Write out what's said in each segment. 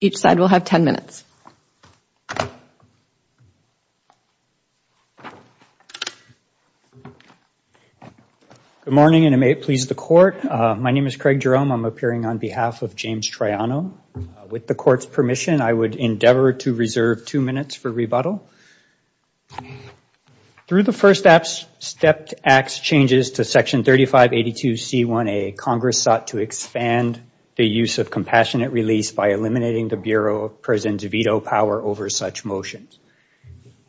Each side will have 10 minutes. Good morning, and it may please the court. My name is Craig Jerome. I'm appearing on behalf of James Troiano. With the court's permission, I would endeavor to reserve two minutes for rebuttal. Through the first act's changes to Section 3582C1A, Congress sought to expand the use of compassionate release by eliminating the Bureau of Prisons' veto power over such motions.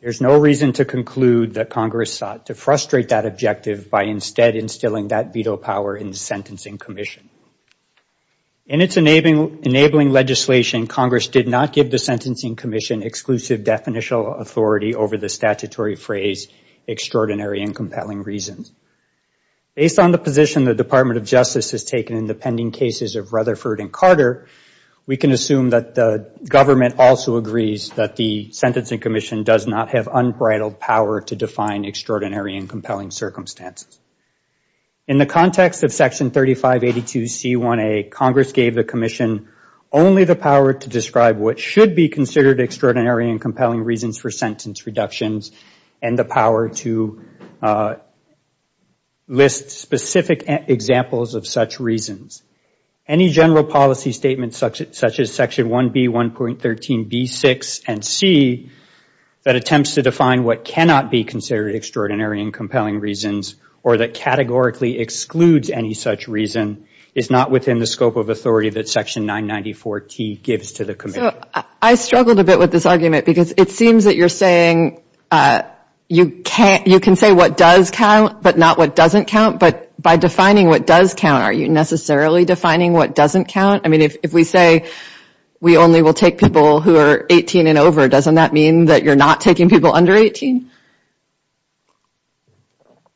There's no reason to conclude that Congress sought to frustrate that objective by instead instilling that veto power in the Sentencing Commission. In its enabling legislation, Congress did not give the Sentencing Commission exclusive definitional authority over the statutory phrase extraordinary and compelling reasons. Based on the position the Department of Justice has taken in the pending cases of Rutherford and Carter, we can assume that the government also agrees that the Sentencing Commission does not have unbridled power to define extraordinary and compelling circumstances. In the context of Section 3582C1A, Congress gave the Commission only the power to describe what should be considered extraordinary and compelling reasons for sentence reductions and the power to list specific examples of such reasons. Any general policy statement such as Section 1B1.13b6 and C that attempts to define what cannot be considered extraordinary and compelling reasons or that categorically excludes any such reason is not within the scope of authority that Section 994T gives to the Commission. I struggled a bit with this argument because it seems that you're saying you can say what does count but not what doesn't count. But by defining what does count, are you necessarily defining what doesn't count? I mean, if we say we only will take people who are 18 and over, doesn't that mean that you're not taking people under 18?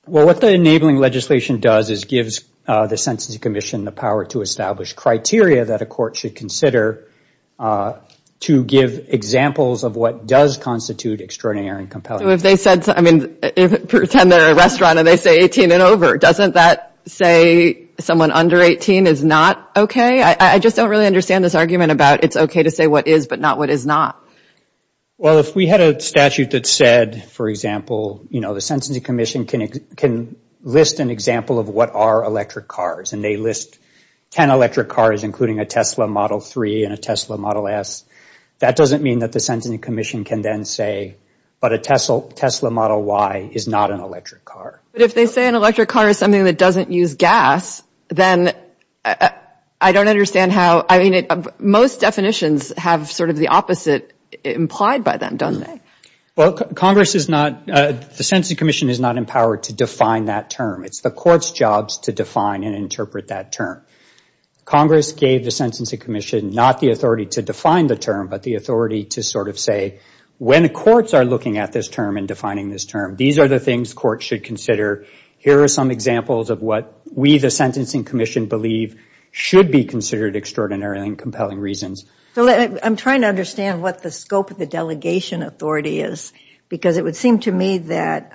Well, what the enabling legislation does is gives the Sentencing Commission the power to establish criteria that a court should consider to give examples of what does constitute extraordinary and compelling. So if they said, I mean, pretend they're a restaurant and they say 18 and over, doesn't that say someone under 18 is not OK? I just don't really understand this argument about it's OK to say what is but not what is not. Well, if we had a statute that said, for example, the Sentencing Commission can list an example of what are electric cars, and they list 10 electric cars, including a Tesla Model 3 and a Tesla Model S, that doesn't mean that the Sentencing Commission can then say, but a Tesla Model Y is not an electric car. But if they say an electric car is something that doesn't use gas, then I don't understand how. I mean, most definitions have sort of the opposite implied by them, doesn't it? Well, Congress is not, the Sentencing Commission is not empowered to define that term. It's the court's jobs to define and interpret that term. Congress gave the Sentencing Commission not the authority to define the term, but the authority to sort of say, when the courts are looking at this term and defining this term, these are the things courts should consider. Here are some examples of what we, the Sentencing Commission, believe should be considered extraordinary and compelling reasons. I'm trying to understand what the scope of the delegation authority is, because it would seem to me that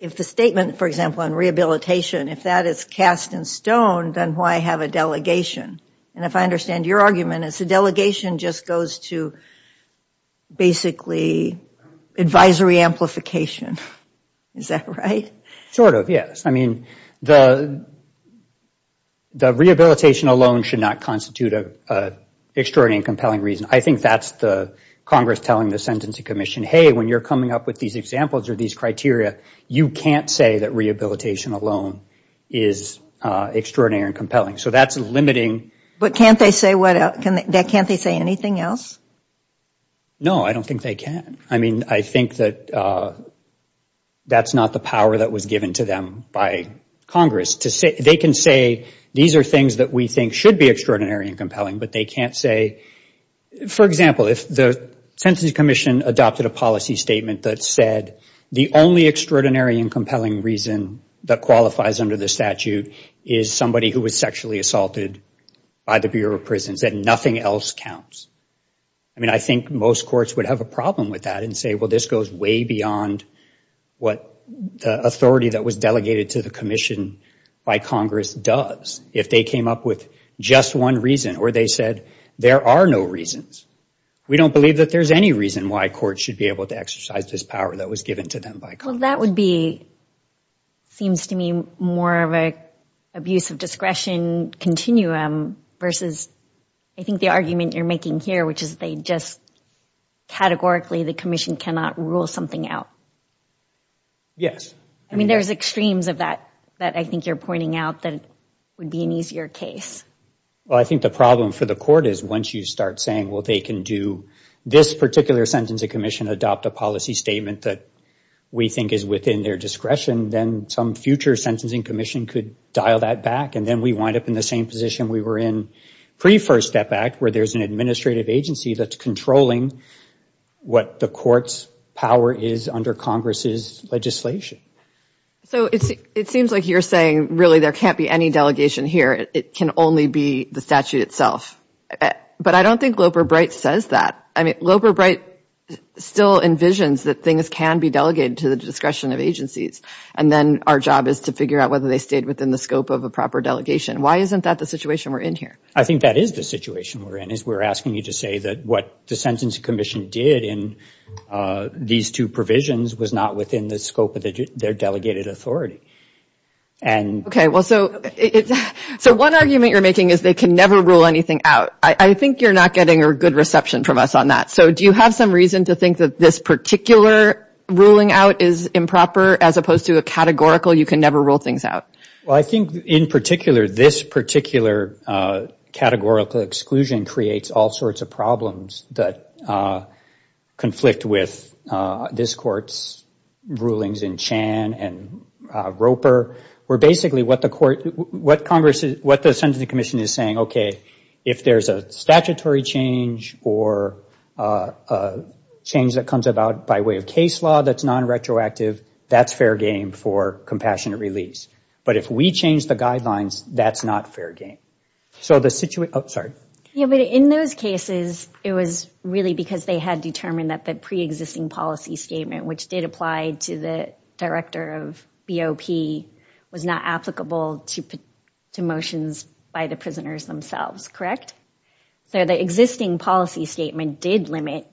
if the statement, for example, on rehabilitation, if that is cast in stone, then why have a delegation? And if I understand your argument, it's a delegation just goes to basically advisory amplification. Is that right? Sort of, yes. I mean, the rehabilitation alone should not constitute an extraordinary and compelling reason. I think that's Congress telling the Sentencing Commission, hey, when you're coming up with these examples or these criteria, you can't say that rehabilitation alone is extraordinary and compelling. So that's limiting. But can't they say anything else? No, I don't think they can. I mean, I think that that's not the power that was given to them by Congress. They can say, these are things that we think should be extraordinary and compelling, but they can't say. For example, if the Sentencing Commission adopted a policy statement that said, the only extraordinary and compelling reason that qualifies under the statute is somebody who was sexually assaulted by the Bureau of Prisons, that nothing else counts, I mean, I think most courts would have a problem with that and say, well, this goes way beyond what the authority that was delegated to the commission by Congress does if they came up with just one reason or they said, there are no reasons. We don't believe that there's any reason why courts should be able to exercise this power that was given to them by Congress. That would be, seems to me, more of an abuse of discretion continuum versus, I think, the argument you're making here, which is they just categorically, the commission cannot rule something out. Yes. I mean, there's extremes of that that I think you're pointing out that would be an easier case. Well, I think the problem for the court is once you start saying, well, they can do this particular Sentencing Commission, adopt a policy statement that we think is within their discretion, then some future Sentencing Commission could dial that back, and then we wind up in the same position we were in pre-First Step Act, where there's an administrative agency that's controlling what the court's power is under Congress's legislation. So it seems like you're saying, really, there can't be any delegation here. It can only be the statute itself. But I don't think Loper Bright says that. I mean, Loper Bright still envisions that things can be delegated to the discretion of agencies. And then our job is to figure out whether they stayed within the scope of a proper delegation. Why isn't that the situation we're in here? I think that is the situation we're in, is we're asking you to say that what the Sentencing Commission did in these two provisions was not within the scope of their delegated authority. OK, well, so one argument you're making is they can never rule anything out. I think you're not getting a good reception from us on that. So do you have some reason to think that this particular ruling out is improper, as opposed to a categorical, you can never rule things out? Well, I think, in particular, this particular categorical exclusion creates all sorts of problems that conflict with this court's rulings in Chan and Roper, where basically what the Sentencing Commission is saying, OK, if there's a statutory change or a change that comes about by way of case law that's non-retroactive, that's fair game for compassionate release. But if we change the guidelines, that's not fair game. So the situation, oh, sorry. Yeah, but in those cases, it was really because they had determined that the pre-existing policy statement, which did apply to the director of BOP, was not applicable to motions by the prisoners themselves, correct? So the existing policy statement did limit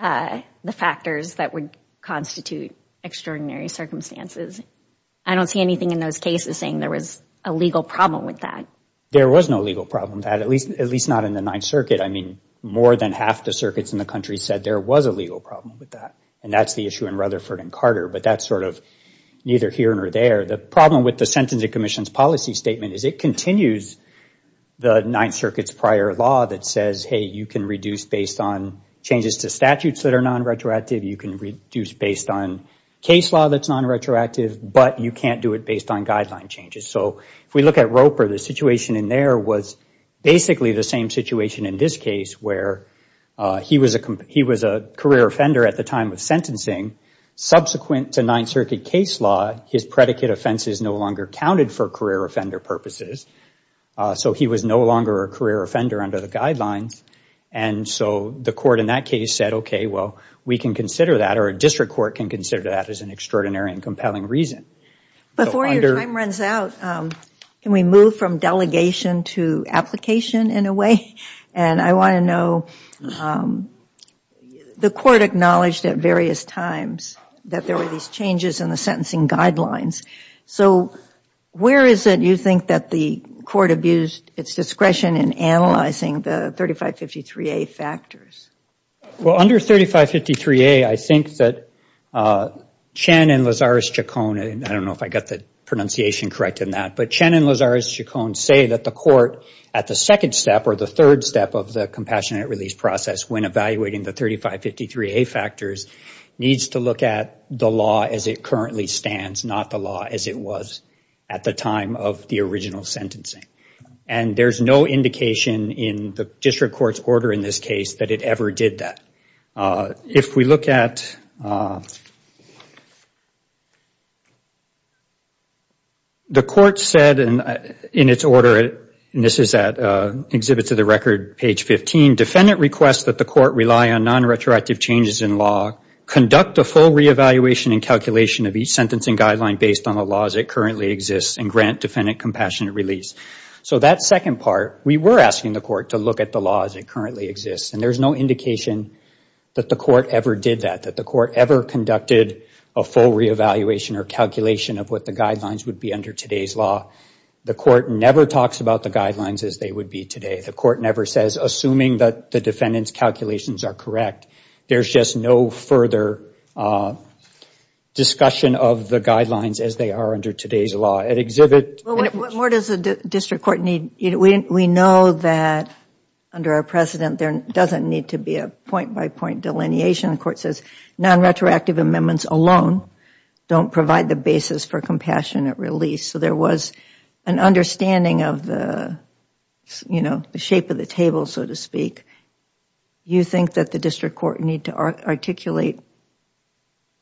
the factors that would constitute extraordinary circumstances. I don't see anything in those cases saying there was a legal problem with that. There was no legal problem with that, at least not in the Ninth Circuit. I mean, more than half the circuits in the country said there was a legal problem with that. And that's the issue in Rutherford and Carter. But that's sort of neither here nor there. The problem with the Sentencing Commission's policy statement is it continues the Ninth Circuit's prior law that says, hey, you can reduce based on changes to statutes that are non-retroactive. You can reduce based on case law that's non-retroactive. But you can't do it based on guideline changes. So if we look at Roper, the situation in there was basically the same situation in this case, where he was a career offender at the time of sentencing. Subsequent to Ninth Circuit case law, his predicate offenses no longer counted for career offender purposes. So he was no longer a career offender under the guidelines. And so the court in that case said, OK, well, we can consider that, or a district court can consider that as an extraordinary and compelling reason. Before your time runs out, can we move from delegation to application in a way? And I want to know, the court acknowledged at various times that there were these changes in the sentencing guidelines. So where is it you think that the court abused its discretion in analyzing the 3553A factors? Well, under 3553A, I think that Chen and Lazarus-Chacon, and I don't know if I got the pronunciation correct in that, but Chen and Lazarus-Chacon say that the court, at the second step or the third step of the compassionate release process, when evaluating the 3553A factors, needs to look at the law as it currently stands, not the law as it was at the time of the original sentencing. And there's no indication in the district court's order in this case that it ever did that. If we look at, the court said in its order, and this is at Exhibits of the Record, page 15, defendant requests that the court rely on non-retroactive changes in law, conduct a full re-evaluation and calculation of each sentencing guideline based on the laws that currently exist, and grant defendant compassionate release. So that second part, we were asking the court to look at the law as it currently exists. And there's no indication that the court ever did that, that the court ever conducted a full re-evaluation or calculation of what the guidelines would be under today's law. The court never talks about the guidelines as they would be today. The court never says, assuming that the defendant's calculations are correct, there's just no further discussion of the guidelines as they are under today's law. At Exhibit 15. What more does the district court need? We know that under our precedent, there doesn't need to be a point-by-point delineation. The court says non-retroactive amendments alone don't provide the basis for compassionate release. So there was an understanding of the shape of the table, so to speak. You think that the district court need to articulate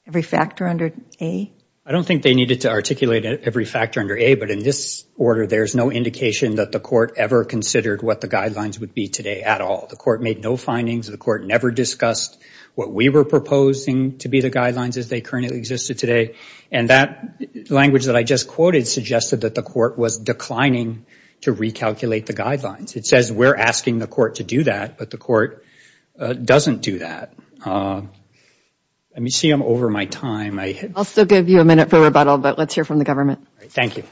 every factor under A? I don't think they needed to articulate every factor under A. But in this order, there's no indication that the court ever considered what the guidelines would be today at all. The court made no findings. The court never discussed what we were proposing to be the guidelines as they currently existed today. And that language that I just quoted suggested that the court was declining to recalculate the guidelines. It says we're asking the court to do that, but the court doesn't do that. Let me see. I'm over my time. I'll still give you a minute for rebuttal, but let's hear from the government. Thank you.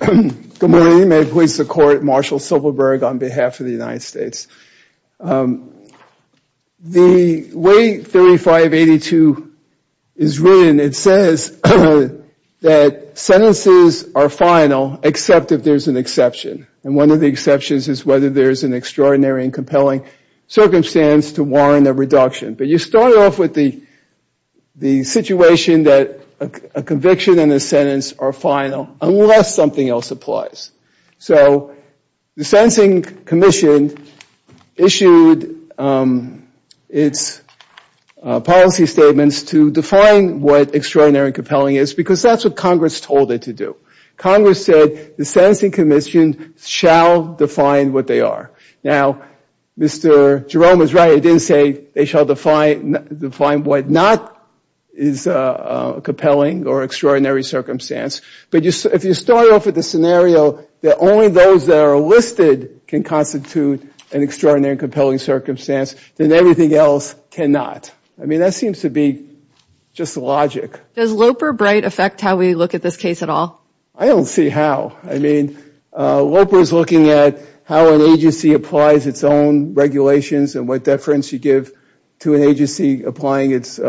Good morning. May it please the court. Marshall Silverberg on behalf of the United States. The way 3582 is written, it says that sentences are final except if there's an exception. And one of the exceptions is whether there's an extraordinary and compelling circumstance to warrant a reduction. But you start off with the situation that a conviction and a sentence are final unless something else applies. So the Sentencing Commission issued its policy statements to define what extraordinary and compelling is because that's what Congress told it to do. Congress said the Sentencing Commission shall define what they are. Now, Mr. Jerome is right. It didn't say they shall define what not is a compelling or extraordinary circumstance. But if you start off with the scenario that only those that are listed can constitute an extraordinary and compelling circumstance, then everything else cannot. I mean, that seems to be just logic. Does Loper-Bright affect how we look at this case at all? I don't see how. I mean, Loper is looking at how an agency applies its own regulations and what deference you give to an agency applying its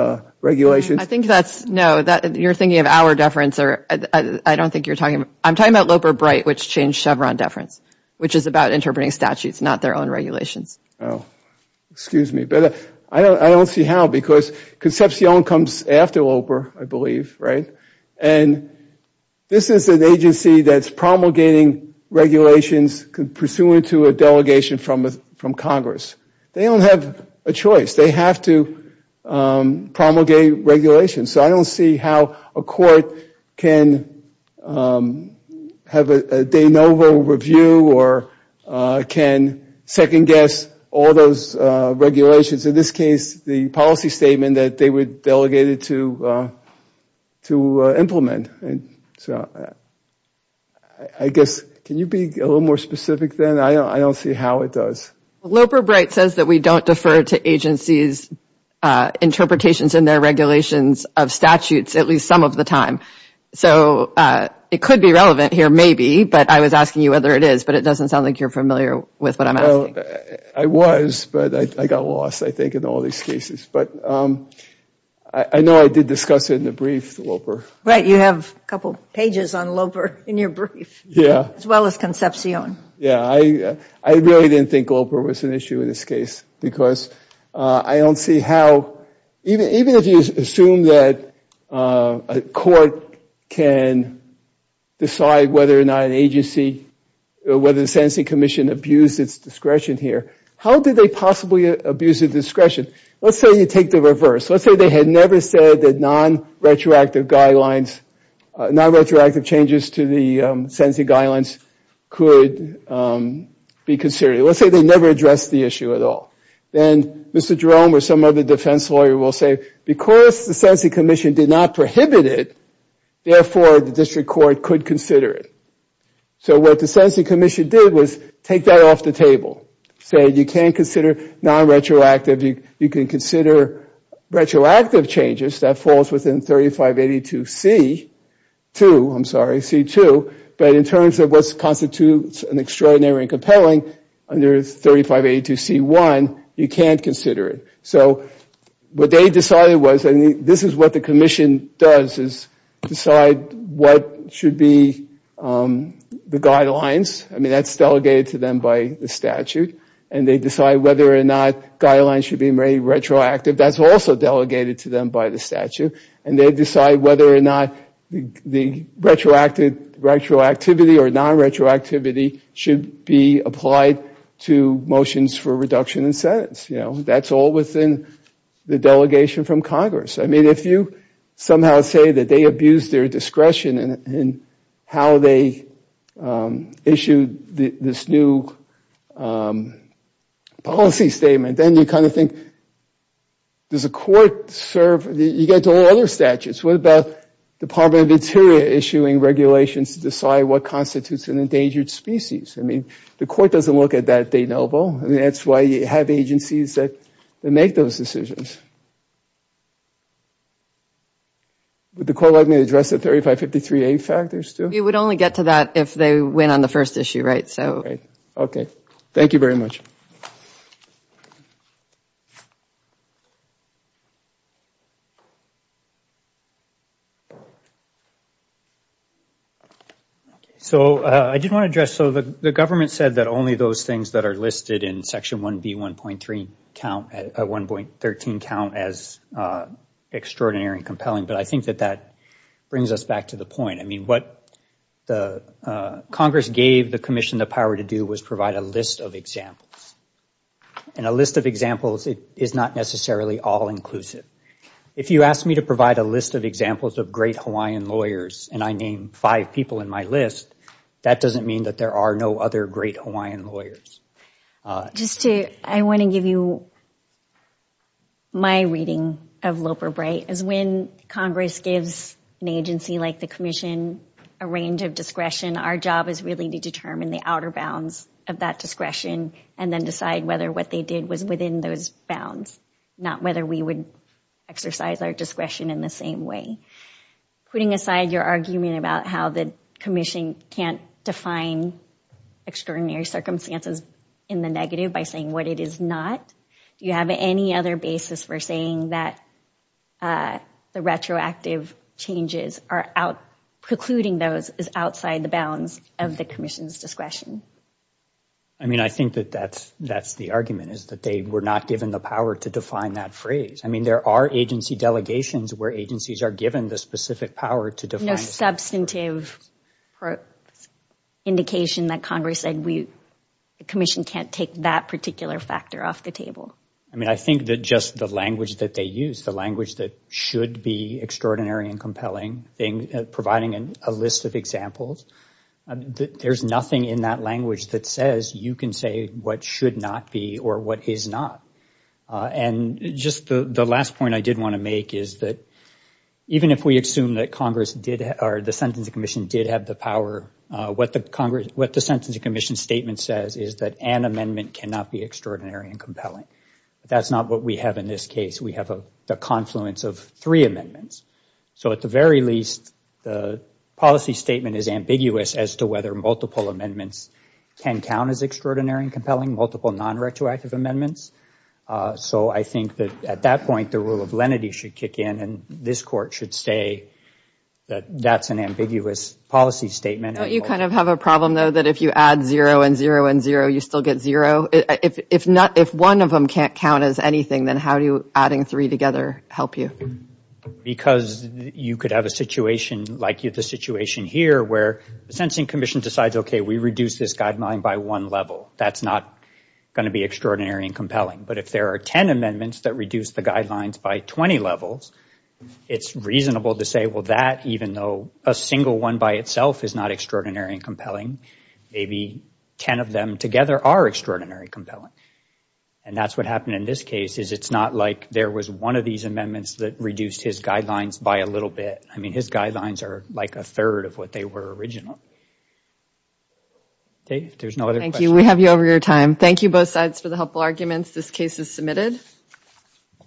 regulations. I think that's, no, you're thinking of our deference or I don't think you're talking about, I'm talking about Loper-Bright, which changed Chevron deference, which is about interpreting statutes, not their own regulations. Oh, excuse me. But I don't see how because Concepcion comes after Loper, I believe, right? And this is an agency that's promulgating regulations pursuant to a delegation from Congress. They don't have a choice. They have to promulgate regulations. So I don't see how a court can have a de novo review or can second guess all those regulations. In this case, the policy statement that they were delegated to implement. So I guess, can you be a little more specific then? I don't see how it does. Loper-Bright says that we don't defer to agencies' interpretations in their regulations of statutes, at least some of the time. So it could be relevant here, maybe, but I was asking you whether it is. But it doesn't sound like you're familiar with what I'm asking. I was, but I got lost, I think, in all these cases. But I know I did discuss it in the brief, Loper. Right, you have a couple pages on Loper in your brief, as well as Concepcion. Yeah, I really didn't think Loper was an issue in this case. Because I don't see how, even if you assume that a court can decide whether or not an agency, whether the sentencing commission abused its discretion here, how did they possibly abuse its discretion? Let's say you take the reverse. Let's say they had never said that non-retroactive guidelines, non-retroactive changes to the sentencing guidelines could be considered. Let's say they never addressed the issue at all. Then Mr. Jerome or some other defense lawyer will say, because the sentencing commission did not prohibit it, therefore, the district court could consider it. So what the sentencing commission did was take that off the table. Say, you can't consider non-retroactive. You can consider retroactive changes. That falls within 3582C2, I'm sorry, C2. But in terms of what constitutes an extraordinary and compelling under 3582C1, you can't consider it. So what they decided was, and this is what the commission does, is decide what should be the guidelines. I mean, that's delegated to them by the statute. And they decide whether or not guidelines should be made retroactive. That's also delegated to them by the statute. And they decide whether or not the retroactive retroactivity or non-retroactivity should be applied to motions for reduction in sentence. That's all within the delegation from Congress. I mean, if you somehow say that they abused their discretion in how they issued this new policy statement, then you kind of think, does a court serve? You get to all other statutes. What about Department of Interior issuing regulations to decide what constitutes an endangered species? I mean, the court doesn't look at that, do they, Noble? I mean, that's why you have agencies that make those decisions. Would the court let me address the 3553A factors, too? It would only get to that if they went on the first issue, right? OK, thank you very much. OK. So I did want to address, so the government said that only those things that are listed in Section 1B 1.13 count as extraordinary and compelling. But I think that that brings us back to the point. I mean, what Congress gave the commission the power to do was provide a list of examples. And a list of examples is not necessarily all-inclusive. If you ask me to provide a list of examples of great Hawaiian lawyers and I name five people in my list, that doesn't mean that there are no other great Hawaiian lawyers. Just to, I want to give you my reading of Loper-Bright is when Congress gives an agency like the commission a range of discretion, our job is really to determine the outer bounds of that discretion and then decide whether what they did was within those bounds, not whether we would exercise our discretion in the same way. Putting aside your argument about how the commission can't define extraordinary circumstances in the negative by saying what it is not, do you have any other basis for saying that the retroactive changes are out, precluding those is outside the bounds of the commission's discretion? I mean, I think that that's the argument, is that they were not given the power to define that phrase. I mean, there are agency delegations where agencies are given the specific power to define. No substantive indication that Congress said we, the commission can't take that particular factor off the table. I mean, I think that just the language that they use, the language that should be extraordinary and compelling, providing a list of examples, there's nothing in that language that says you can say what should not be or what is not. And just the last point I did want to make is that even if we assume that the Sentencing Commission did have the power, what the Sentencing Commission's statement says is that an amendment cannot be extraordinary and compelling. That's not what we have in this case. We have the confluence of three amendments. So at the very least, the policy statement is ambiguous as to whether multiple amendments can count as extraordinary and compelling, multiple non-retroactive amendments. So I think that at that point, the rule of lenity should kick in, and this court should say that that's an ambiguous policy statement. Don't you kind of have a problem, though, that if you add 0 and 0 and 0, you still get 0? If one of them can't count as anything, then how do adding three together help you? Because you could have a situation like the situation here, where the Sentencing Commission decides, OK, we reduce this guideline by one level. That's not going to be extraordinary and compelling. But if there are 10 amendments that reduce the guidelines by 20 levels, it's reasonable to say, well, that, even though a single one by itself is not extraordinary and compelling, maybe 10 of them together are extraordinary and compelling. And that's what happened in this case, is it's not like there was one of these amendments that reduced his guidelines by a little bit. I mean, his guidelines are like a third of what they were originally. Dave, there's no other questions. We have you over your time. Thank you, both sides, for the helpful arguments. This case is submitted.